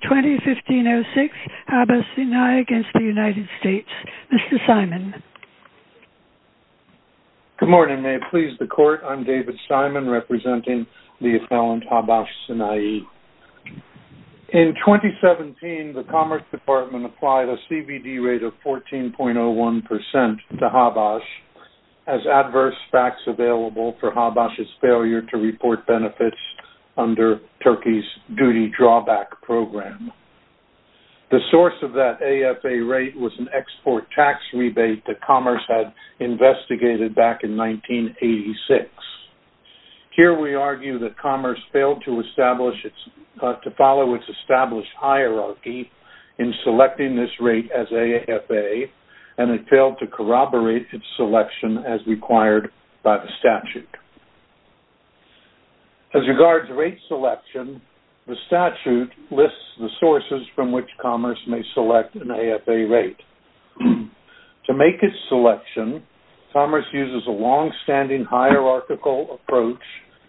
2015-06 Habas Sinai against the United States. Mr. Simon Good morning, may it please the court. I'm David Simon representing the affluent Habas Sinai in 2017 the Commerce Department applied a CBD rate of fourteen point oh one percent to Habas as Adverse facts available for Habas's failure to report benefits under Turkey's duty drawback program The source of that AFA rate was an export tax rebate that commerce had investigated back in 1986 Here we argue that commerce failed to establish its to follow its established hierarchy in Selecting this rate as AFA and it failed to corroborate its selection as required by the statute As Regards rate selection the statute lists the sources from which commerce may select an AFA rate To make its selection Commerce uses a long-standing Hierarchical approach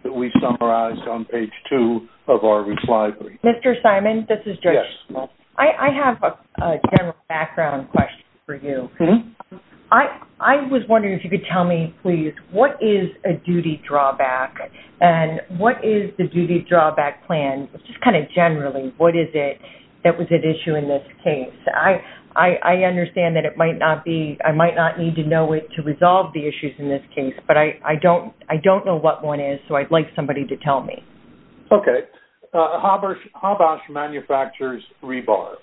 that we summarized on page two of our reply. Mr. Simon. This is just well I I have a general background question for you. Hmm. I I was wondering if you could tell me please What is a duty drawback? And what is the duty drawback plan? It's just kind of generally What is it that was at issue in this case? I I I understand that it might not be I might not need to know it to resolve the issues in this case But I I don't I don't know what one is. So I'd like somebody to tell me Okay Haber Habas Manufactures rebar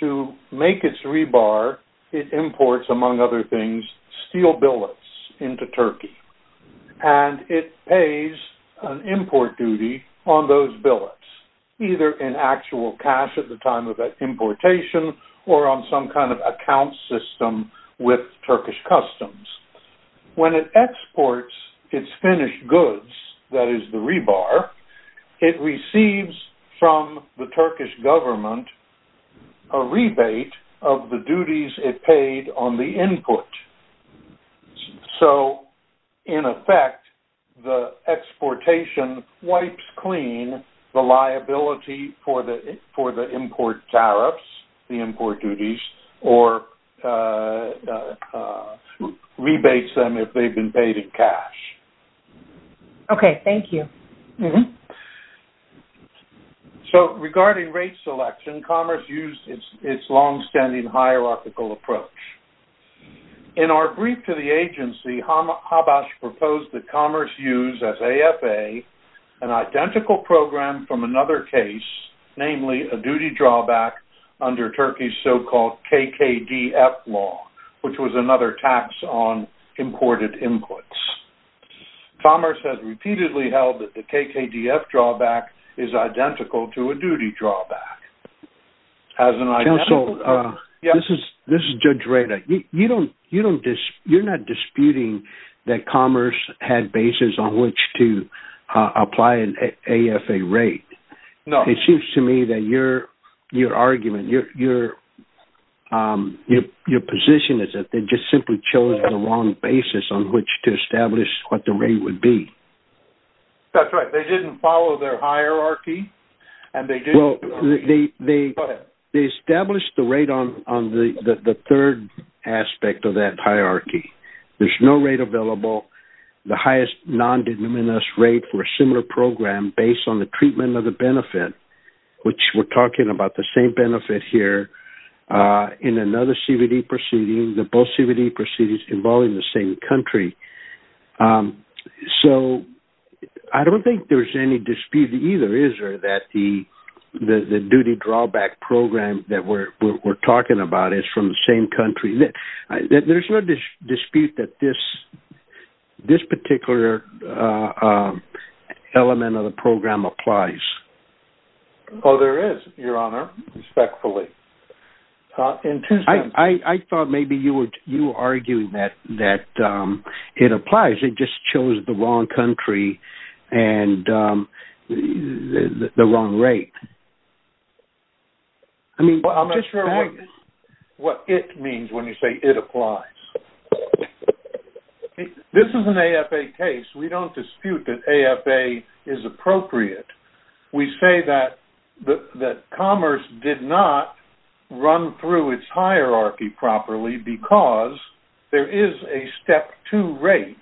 to make its rebar it imports among other things steel billets into Turkey And it pays an import duty on those billets either in actual cash at the time of that Importation or on some kind of account system with Turkish customs When it exports its finished goods, that is the rebar it receives from the Turkish government a rebate of the duties it paid on the input so in effect the exportation wipes clean the liability for the for the import tariffs the import duties or Rebates them if they've been paid in cash Okay, thank you. Mm-hmm So regarding rate selection commerce used its long-standing hierarchical approach In our brief to the agency Habas proposed that commerce use as AFA an identical program from another case Namely a duty drawback under Turkey's so called KKDF law, which was another tax on imported inputs Commerce has repeatedly held that the KKDF drawback is identical to a duty drawback Counsel Yeah, this is this is Judge Rada. You don't you don't just you're not disputing that commerce had basis on which to Apply an AFA rate. No, it seems to me that you're your argument. You're Your your position is that they just simply chose a wrong basis on which to establish what the rate would be That's right. They didn't follow their hierarchy and they do They They established the rate on on the the third aspect of that hierarchy There's no rate available the highest non-denominous rate for a similar program based on the treatment of the benefit Which we're talking about the same benefit here In another CVD proceeding the both CVD proceedings involving the same country So I don't think there's any dispute either is or that the The duty drawback program that we're talking about is from the same country that there's no dispute that this this particular Element of the program applies. Oh There is your honor respectfully In I thought maybe you were you arguing that that it applies. It just chose the wrong country and The wrong rate I Mean what it means when you say it applies This is an AFA case we don't dispute that AFA is appropriate We say that the commerce did not Run through its hierarchy properly because there is a step to rate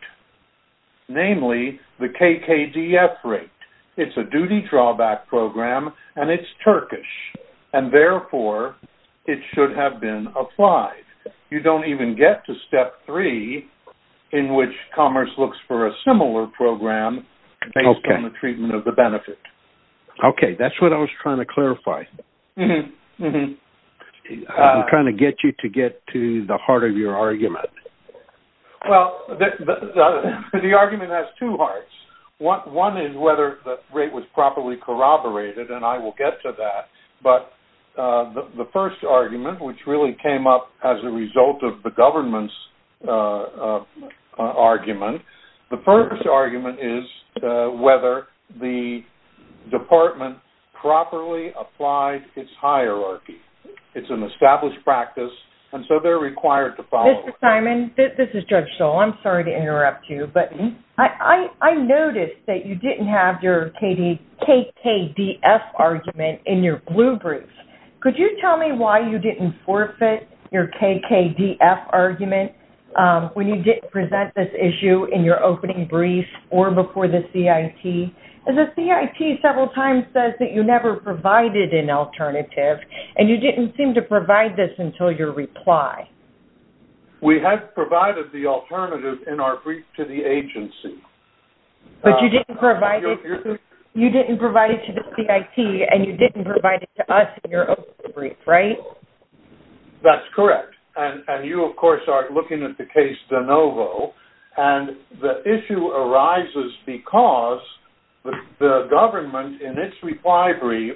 Namely the KKDF rate It's a duty drawback program and it's Turkish and therefore it should have been applied You don't even get to step three in which commerce looks for a similar program Based on the treatment of the benefit Okay, that's what I was trying to clarify Trying to get you to get to the heart of your argument well The argument has two hearts. What one is whether the rate was properly corroborated and I will get to that but The first argument which really came up as a result of the government's Argument the first argument is whether the department Properly applied its hierarchy. It's an established practice. And so they're required to follow Simon This is judge. So, I'm sorry to interrupt you, but I Noticed that you didn't have your KD KKDF Argument in your blue brief. Could you tell me why you didn't forfeit your KKDF argument? When you didn't present this issue in your opening brief or before the CIT And the CIT several times says that you never provided an alternative and you didn't seem to provide this until your reply We had provided the alternative in our brief to the agency But you didn't provide it. You didn't provide it to the CIT and you didn't provide it to us your own brief, right? That's correct. And and you of course aren't looking at the case de novo and the issue arises because the government in its reply brief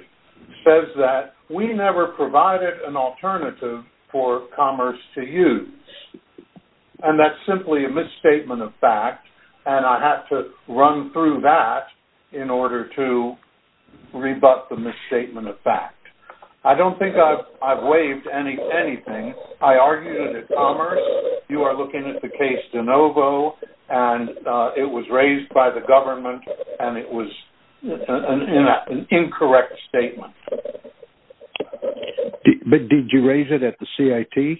Says that we never provided an alternative for commerce to use and that's simply a misstatement of fact, and I had to run through that in order to Rebut the misstatement of fact, I don't think I've I've waived any anything. I argued it commerce you are looking at the case de novo and it was raised by the government and it was An incorrect statement But did you raise it at the CIT?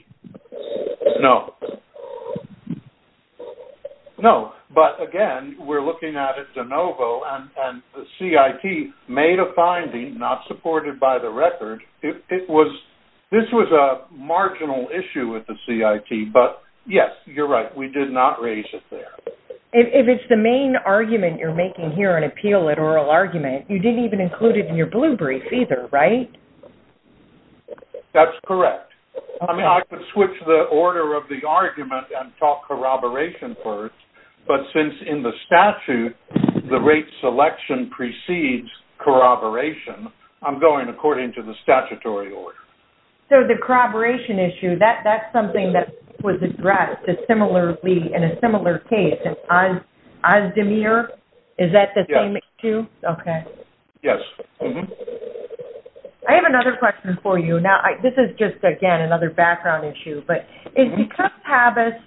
No No, but again, we're looking at it de novo and CIT made a finding not supported by the record It was this was a marginal issue with the CIT, but yes, you're right We did not raise it there. If it's the main argument you're making here an appeal at oral argument You didn't even include it in your blue brief either, right? That's correct I mean I could switch the order of the argument and talk corroboration first But since in the statute the rate selection precedes Corroboration I'm going according to the statutory order. So the corroboration issue that that's something that was addressed similarly in a similar case and Ozdemir, is that the same issue? Okay. Yes. Mm-hmm. I Have another question for you now This is just again another background issue, but it's because Habas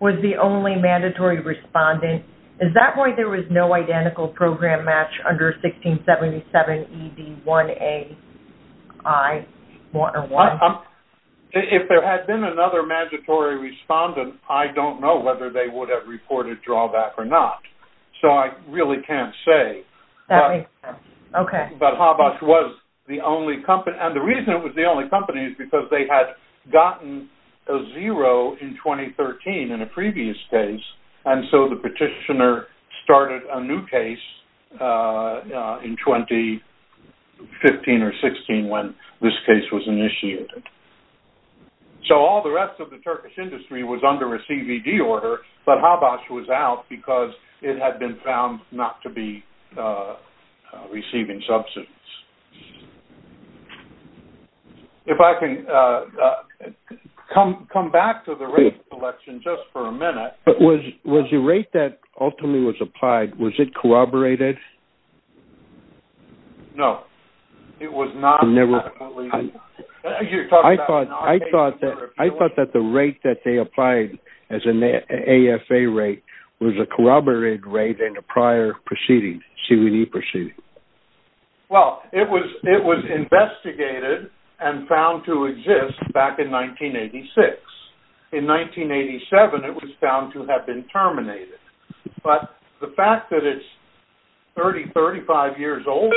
was the only mandatory Respondent, is that why there was no identical program match under 1677 ED 1a I Water one If there had been another mandatory respondent I don't know whether they would have reported drawback or not. So I really can't say Okay, but Habas was the only company and the reason it was the only company is because they had gotten a zero in 2013 in a previous case and so the petitioner started a new case in 2015 or 16 when this case was initiated So all the rest of the Turkish industry was under a CVD order but Habas was out because it had been found not to be Receiving substance If I can Come come back to the race election just for a minute, but was was the rate that ultimately was applied. Was it corroborated? No, it was not never I thought I thought that I thought that the rate that they applied as an AFA rate was a corroborated rate in a prior proceeding see we need proceed Well, it was it was investigated and found to exist back in 1986 in 1987 it was found to have been terminated but the fact that it's 3035 years old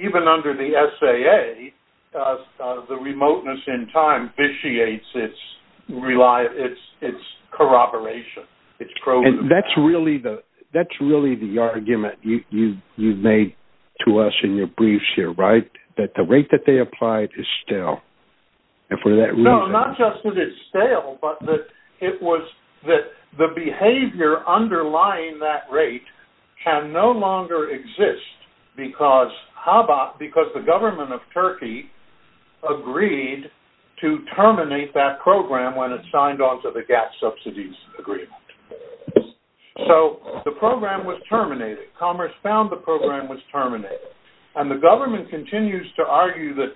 Even under the SAA The remoteness in time vitiates. It's Reliable, it's it's Corroboration, it's growing. That's really the that's really the argument you you've made to us in your briefs You're right that the rate that they applied is still And for that we know not just that it's stale It was that the behavior Underlying that rate can no longer exist because how about because the government of Turkey? Agreed to terminate that program when it signed on to the gas subsidies agreement So the program was terminated commerce found the program was terminated and the government continues to argue that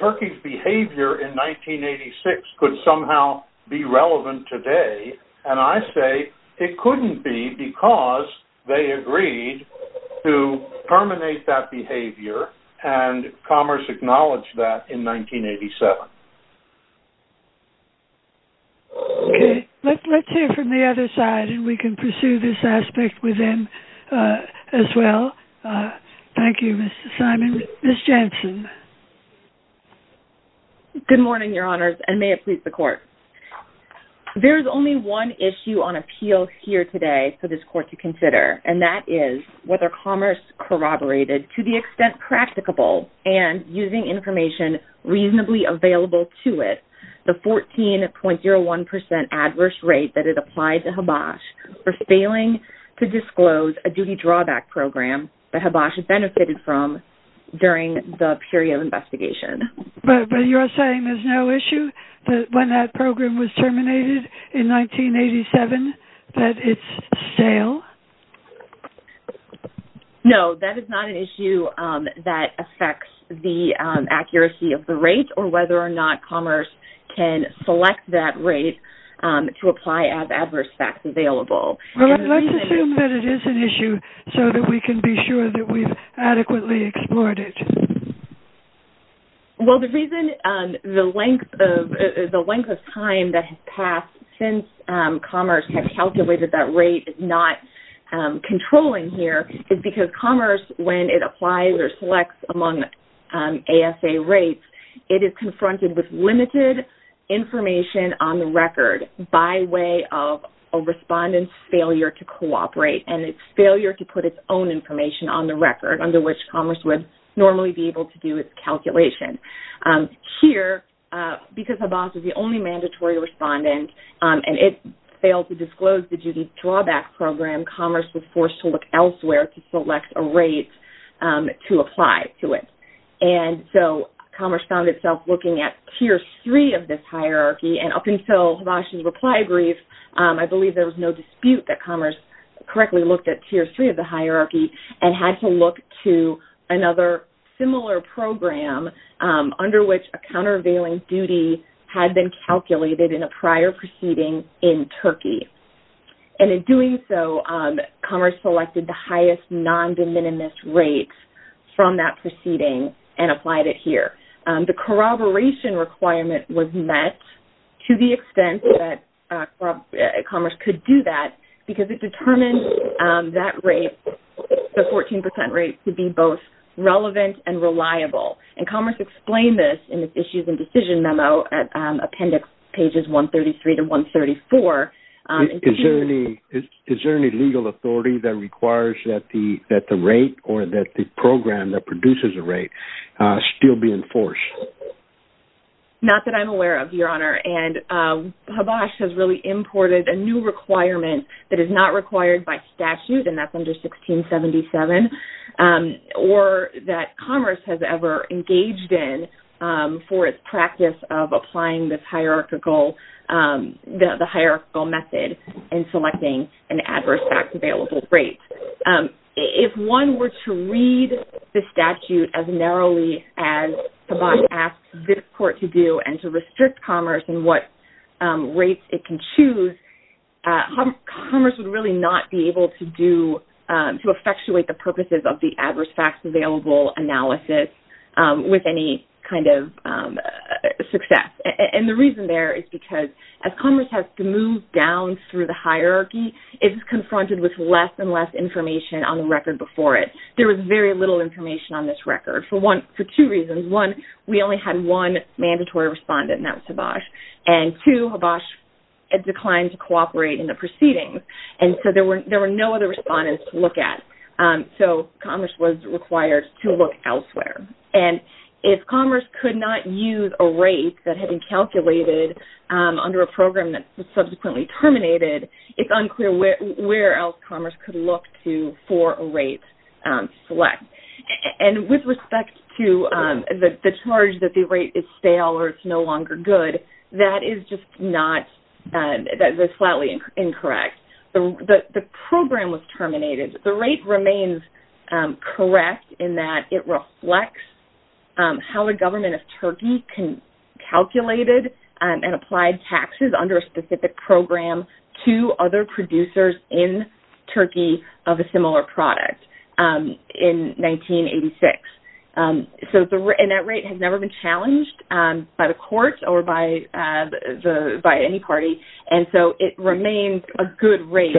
Turkey's behavior in 1986 could somehow be relevant today, and I say it couldn't be because they agreed to terminate that behavior and Commerce acknowledged that in 1987 Okay, let's hear from the other side and we can pursue this aspect with them as well Thank You, Mr. Simon. Ms. Jensen Good morning, your honors and may it please the court There is only one issue on appeal here today for this court to consider and that is whether commerce Corroborated to the extent practicable and using information reasonably available to it the 14.01% adverse rate that it applied to Habash for failing to disclose a duty drawback program Habash benefited from During the period of investigation, but you're saying there's no issue that when that program was terminated in 1987 that it's stale No, that is not an issue that affects the Accuracy of the rate or whether or not commerce can select that rate To apply as adverse facts available Let's assume that it is an issue so that we can be sure that we've adequately explored it Well, the reason the length of the length of time that has passed since commerce have calculated that rate is not Controlling here is because commerce when it applies or selects among ASA rates it is confronted with limited Information on the record by way of a Respondent's failure to cooperate and its failure to put its own information on the record under which commerce would normally be able to do its calculation here Because Habash was the only mandatory respondent and it failed to disclose the duty drawback program Commerce was forced to look elsewhere to select a rate To apply to it and so commerce found itself looking at tier 3 of this hierarchy and up until Habash's reply brief I believe there was no dispute that commerce correctly looked at tier 3 of the hierarchy and had to look to another similar program Under which a countervailing duty had been calculated in a prior proceeding in Turkey and in doing so Commerce selected the highest non-de minimis rates from that proceeding and applied it here the corroboration requirement was met to the extent that Commerce could do that because it determined that rate The 14% rate to be both relevant and reliable and commerce explained this in its issues and decision memo appendix pages 133 to 134 Is there any is there any legal authority that requires that the that the rate or that the program that produces a rate still be enforced Not that I'm aware of your honor and Habash has really imported a new requirement that is not required by statute and that's under 1677 Or that commerce has ever engaged in for its practice of applying this hierarchical The the hierarchical method and selecting an adverse facts available rate if one were to read the statute as narrowly as Habash asked this court to do and to restrict commerce and what rates it can choose Commerce would really not be able to do to effectuate the purposes of the adverse facts available analysis with any kind of Success and the reason there is because as commerce has to move down through the hierarchy It is confronted with less and less information on the record before it There was very little information on this record for one for two reasons one We only had one mandatory respondent and that was Habash and to Habash Declined to cooperate in the proceedings and so there were there were no other respondents to look at So commerce was required to look elsewhere and if commerce could not use a rate that had been calculated Under a program that was subsequently terminated. It's unclear where else commerce could look to for a rate Select and with respect to the charge that the rate is stale or it's no longer good. That is just not That was flatly incorrect, but the program was terminated the rate remains Correct in that it reflects how a government of Turkey can calculated and applied taxes under a specific program to other producers in Turkey of a similar product in 1986 So the net rate has never been challenged by the courts or by By any party and so it remains a good rate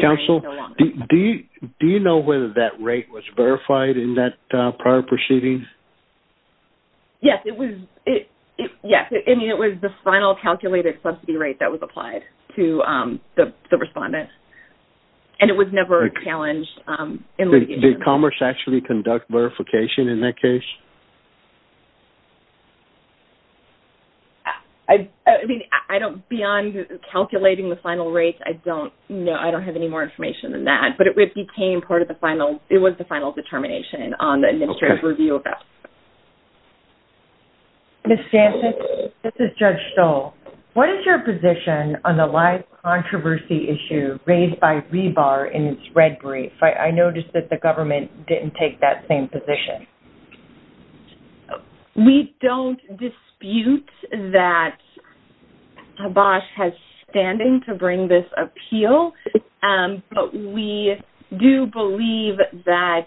Counsel, do you do you know whether that rate was verified in that prior proceedings? Yes, it was it. Yes. I mean it was the final calculated subsidy rate that was applied to the respondent And it was never challenged The commerce actually conduct verification in that case I mean I don't beyond Calculating the final rates. I don't know I don't have any more information than that But it would became part of the final it was the final determination on the administrative review of that Miss Jansen, this is Judge Stoll. What is your position on the live? Controversy issue raised by rebar in its red brief. I noticed that the government didn't take that same position We don't dispute that Habash has standing to bring this appeal, but we do believe that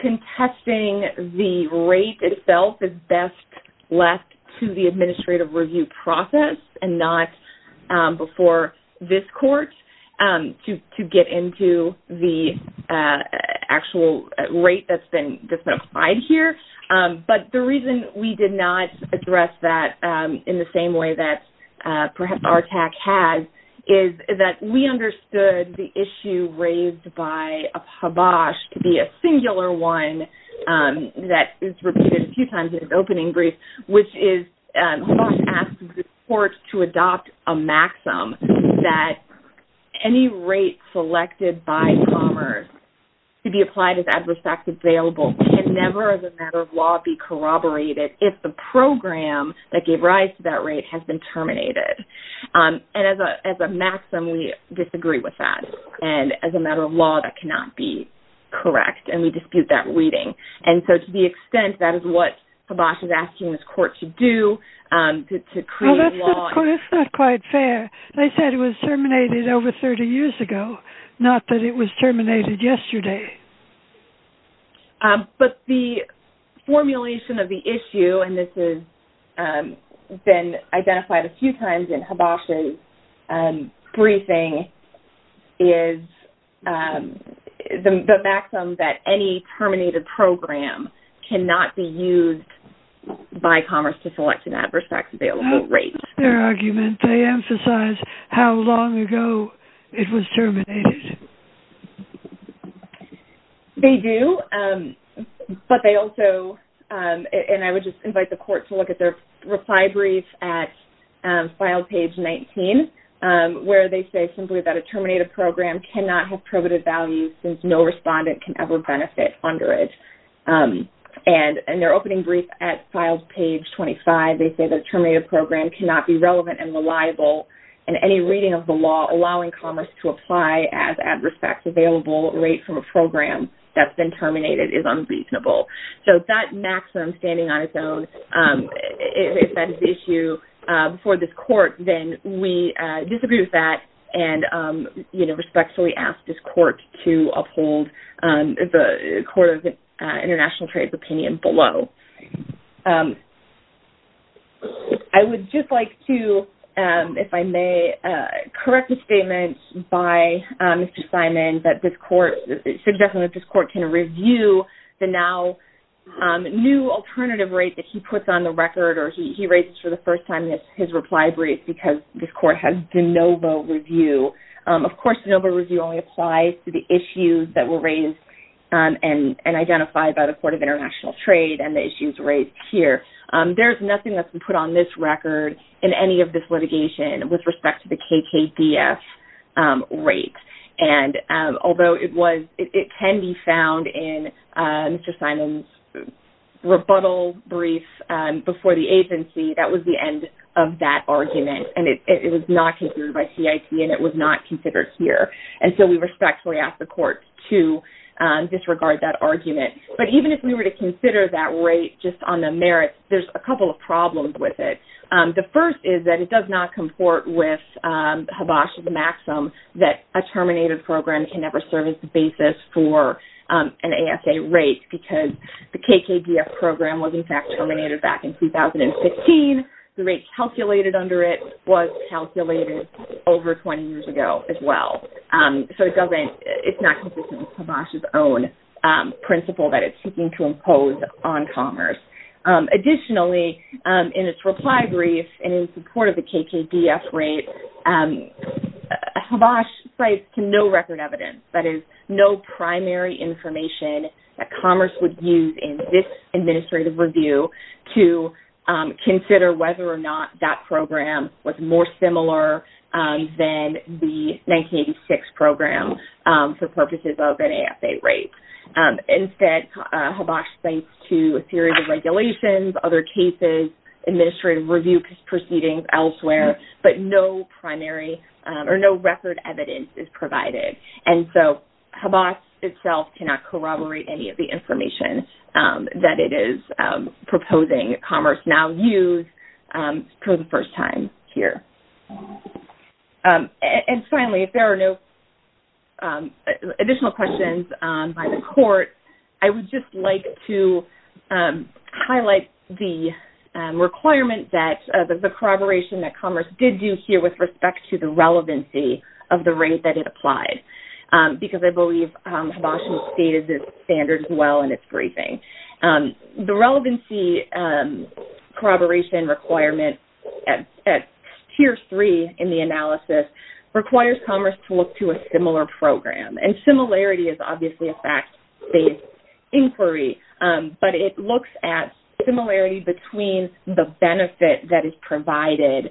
Contesting the rate itself is best left to the administrative review process and not before this court to get into the Actual rate that's been just been applied here but the reason we did not address that in the same way that Perhaps our attack has is that we understood the issue raised by a pabosh to be a singular one That is repeated a few times in his opening brief, which is Courts to adopt a maxim that Any rate selected by commerce To be applied as adverse facts available can never as a matter of law be corroborated If the program that gave rise to that rate has been terminated And as a as a maxim we disagree with that and as a matter of law that cannot be Correct, and we dispute that reading and so to the extent that is what pabosh is asking this court to do To create law. That's not quite fair. They said it was terminated over 30 years ago. Not that it was terminated yesterday But the formulation of the issue and this is been identified a few times in pabosh's briefing is The maxim that any terminated program cannot be used By commerce to select an adverse facts available rate their argument they emphasize how long ago it was terminated They do but they also And I would just invite the court to look at their reply brief at file page 19 Where they say simply that a terminated program cannot have probative values since no respondent can ever benefit under it And in their opening brief at files page 25 They say that terminated program cannot be relevant and reliable and any reading of the law allowing commerce to apply as adverse facts available Rate from a program that's been terminated is unreasonable. So that maximum standing on its own if that is the issue before this court, then we disagree with that and You know respectfully ask this court to uphold The Court of International Trade's opinion below I Would just like to if I may correct a statement by Mr. Simon that this court suggesting that this court can review the now New alternative rate that he puts on the record or he writes for the first time That's his reply brief because this court has de novo review Of course de novo review only applies to the issues that were raised And and identified by the Court of International Trade and the issues raised here There's nothing that's been put on this record in any of this litigation with respect to the KKBF rate and Although it was it can be found in Mr. Simon's rebuttal brief Before the agency that was the end of that argument and it was not taken by CIT And it was not considered here. And so we respectfully ask the court to Disregard that argument, but even if we were to consider that rate just on the merits There's a couple of problems with it. The first is that it does not comport with Habash's maximum that a terminated program can never serve as the basis for An ASA rate because the KKBF program was in fact terminated back in 2015 the rate calculated under it was calculated over 20 years ago as well So it doesn't it's not consistent with Habash's own Principle that it's seeking to impose on commerce Additionally in its reply brief and in support of the KKBF rate Habash cites to no record evidence that is no primary information that commerce would use in this administrative review to Consider whether or not that program was more similar than the 1986 program for purposes of an ASA rate Instead Habash thanks to a series of regulations other cases Administrative review proceedings elsewhere, but no primary or no record evidence is provided And so Habash itself cannot corroborate any of the information that it is proposing commerce now use for the first time here And finally if there are no Additional questions by the court. I would just like to Highlight the Requirement that the corroboration that commerce did do here with respect to the relevancy of the rate that it applied Because I believe Habash stated this standard as well in its briefing the relevancy Corroboration requirement at Tier three in the analysis requires commerce to look to a similar program and similarity is obviously a fact-based Inquiry, but it looks at similarity between the benefit that is provided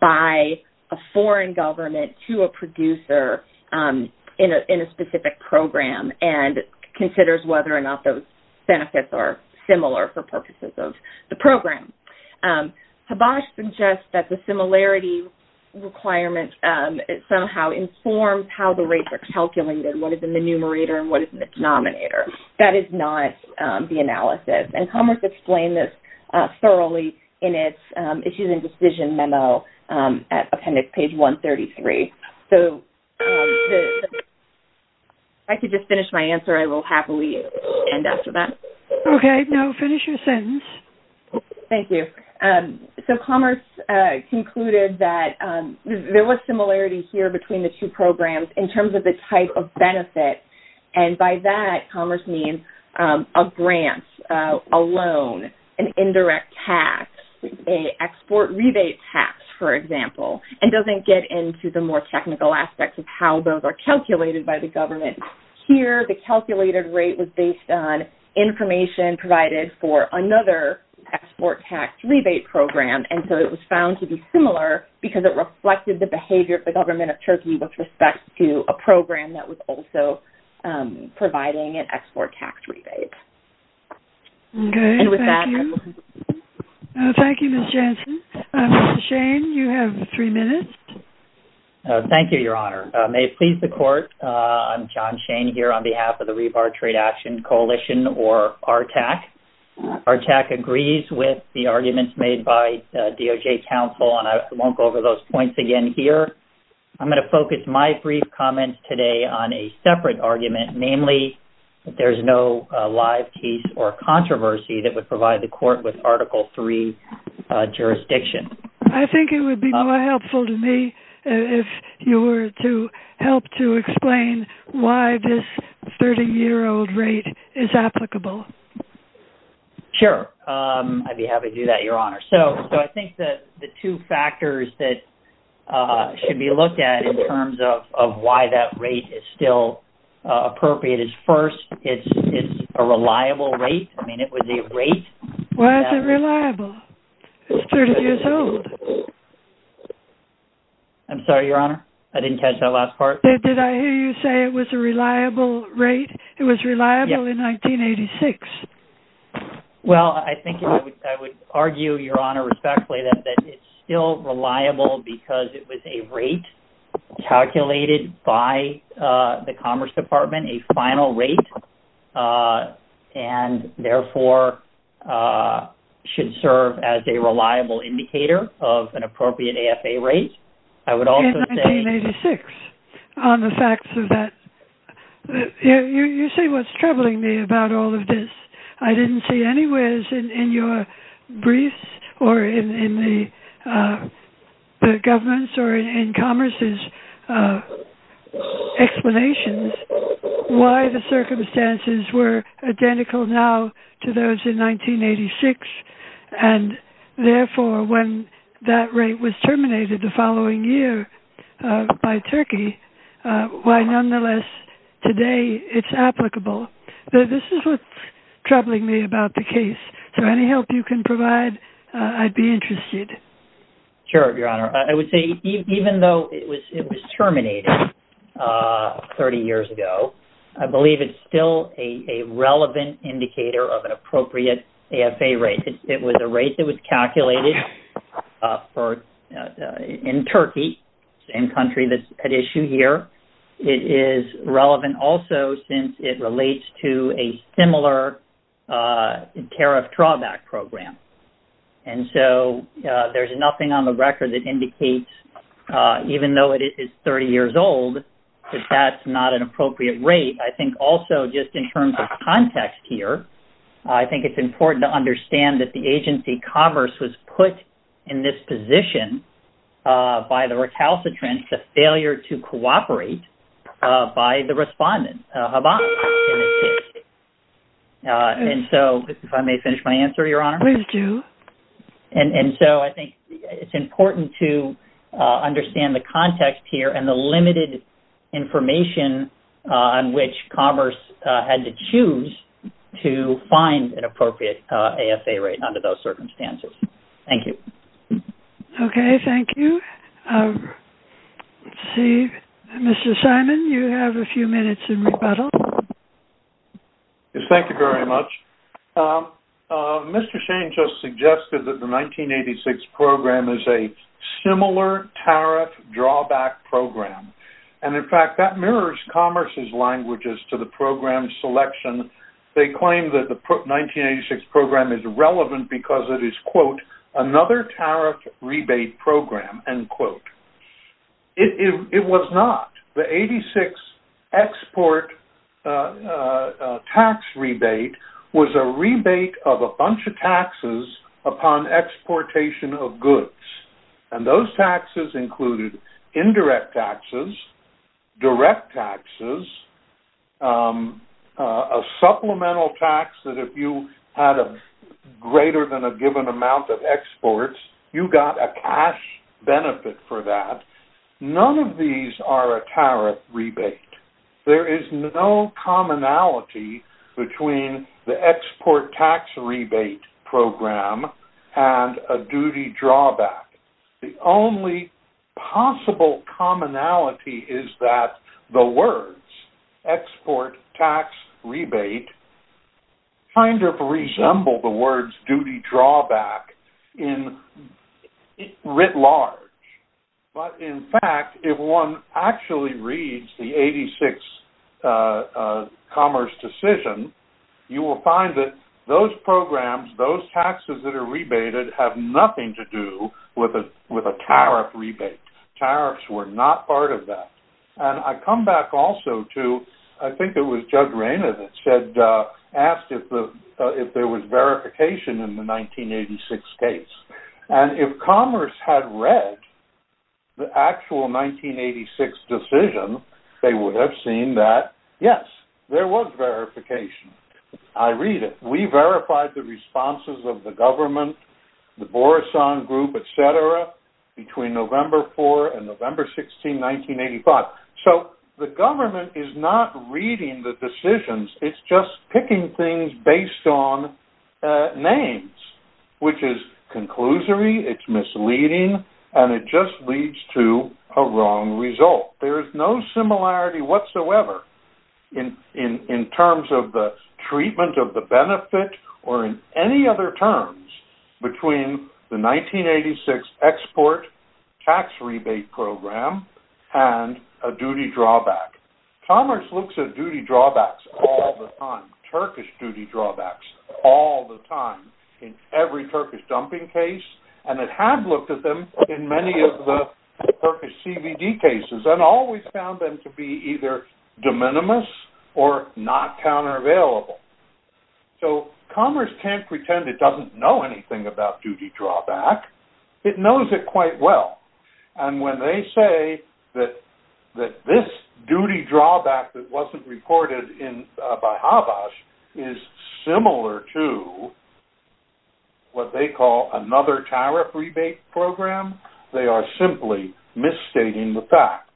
by a foreign government to a producer in a specific program and Considers whether or not those benefits are similar for purposes of the program Habash suggests that the similarity Requirement it somehow informs how the rates are calculated. What is in the numerator and what is in the denominator? That is not the analysis and commerce explain this Thoroughly in its issues and decision memo at appendix page 133, so I Could just finish my answer I will happily end after that. Okay. No finish your sentence Thank you so commerce concluded that there was similarity here between the two programs in terms of the type of benefit and by that commerce means a grant a loan an indirect tax a Export rebate tax for example and doesn't get into the more technical aspects of how those are calculated by the government Here the calculated rate was based on information provided for another export tax rebate program and so it was found to be similar because it reflected the behavior of the government of Turkey with respect to a program that was so providing an export tax rebate Thank You Miss Jensen Shane you have three minutes Thank you, Your Honor. May it please the court? I'm John Shane here on behalf of the rebar trade action coalition or our tack Our tack agrees with the arguments made by DOJ council and I won't go over those points again here I'm going to focus my brief comments today on a separate argument namely There's no live case or controversy that would provide the court with article 3 Jurisdiction. I think it would be helpful to me if you were to help to explain Why this 30 year old rate is applicable Sure, I'd be happy to do that your honor. So so I think that the two factors that Should be looked at in terms of why that rate is still Appropriate is first. It's a reliable rate. I mean it would be great. Why is it reliable? I'm sorry, your honor. I didn't catch that last part. Did I hear you say it was a reliable rate? It was reliable in 1986 Well, I think I would argue your honor respectfully that it's still reliable because it was a rate calculated by the Commerce Department a final rate and therefore Should serve as a reliable indicator of an appropriate AFA rate. I would also say on the facts of that You see what's troubling me about all of this I didn't see any ways in your briefs or in the Governments or in Commerce's Explanations why the circumstances were identical now to those in 1986 and Therefore when that rate was terminated the following year by Turkey Why nonetheless Today, it's applicable. This is what's troubling me about the case. So any help you can provide I'd be interested Sure, your honor. I would say even though it was it was terminated 30 years ago. I believe it's still a Relevant indicator of an appropriate AFA rate. It was a rate that was calculated for In Turkey same country that's at issue here it is relevant also since it relates to a similar tariff drawback program and so There's nothing on the record that indicates Even though it is 30 years old, but that's not an appropriate rate. I think also just in terms of context here I think it's important to understand that the agency commerce was put in this position By the recalcitrant the failure to cooperate by the respondent And so if I may finish my answer your honor, please do and and so I think it's important to Understand the context here and the limited information on which commerce had to choose to Find an appropriate AFA rate under those circumstances. Thank you Okay. Thank you See mr. Simon you have a few minutes in rebuttal Thank you very much Mr. Shane just suggested that the 1986 program is a similar tariff drawback Program and in fact that mirrors commerce's languages to the program selection They claim that the 1986 program is relevant because it is quote another tariff rebate program and quote It was not the 86 export Tax rebate was a rebate of a bunch of taxes upon exportation of goods and those taxes included indirect taxes direct taxes a supplemental tax that if you had a Greater than a given amount of exports you got a cash benefit for that None of these are a tariff rebate. There is no commonality between the export tax rebate program and a duty drawback the only Possible commonality is that the words export tax rebate? kind of resemble the words duty drawback in writ large But in fact if one actually reads the 86 Commerce decision You will find that those programs those taxes that are rebated have nothing to do with a with a tariff rebate tariffs were not part of that and I come back also to I think it was judge Rainer that said Asked if the if there was verification in the 1986 case and if commerce had read the actual 1986 decision they would have seen that yes, there was verification I read it. We verified the responses of the government the Boris on group, etc between November 4 and November 16 1985 so the government is not reading the decisions. It's just picking things based on names Which is conclusory it's misleading and it just leads to a wrong result there is no similarity whatsoever in in in terms of the treatment of the benefit or in any other terms between the 1986 export tax rebate program and a duty drawback Commerce looks at duty drawbacks Turkish duty drawbacks all the time in every Turkish dumping case and it had looked at them in many of the Turkish CVD cases and always found them to be either de minimis or not counter available So commerce can't pretend it doesn't know anything about duty drawback It knows it quite well and when they say that that this duty drawback that wasn't recorded in by habas is similar to What they call another tariff rebate program they are simply misstating the facts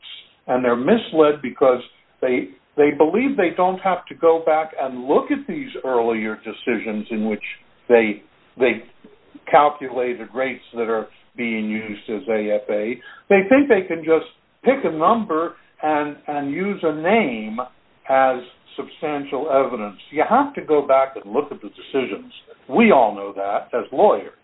and they're misled because they Believe they don't have to go back and look at these earlier decisions in which they they calculated rates that are being used as a FAA they think they can just pick a number and and use a name as Substantial evidence you have to go back and look at the decisions. We all know that as lawyers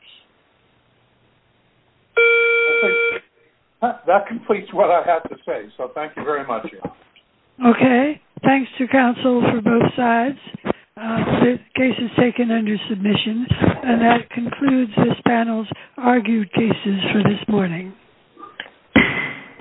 That completes what I have to say, so thank you very much Okay, thanks to counsel for both sides The case is taken under submission and that concludes this panel's argued cases for this morning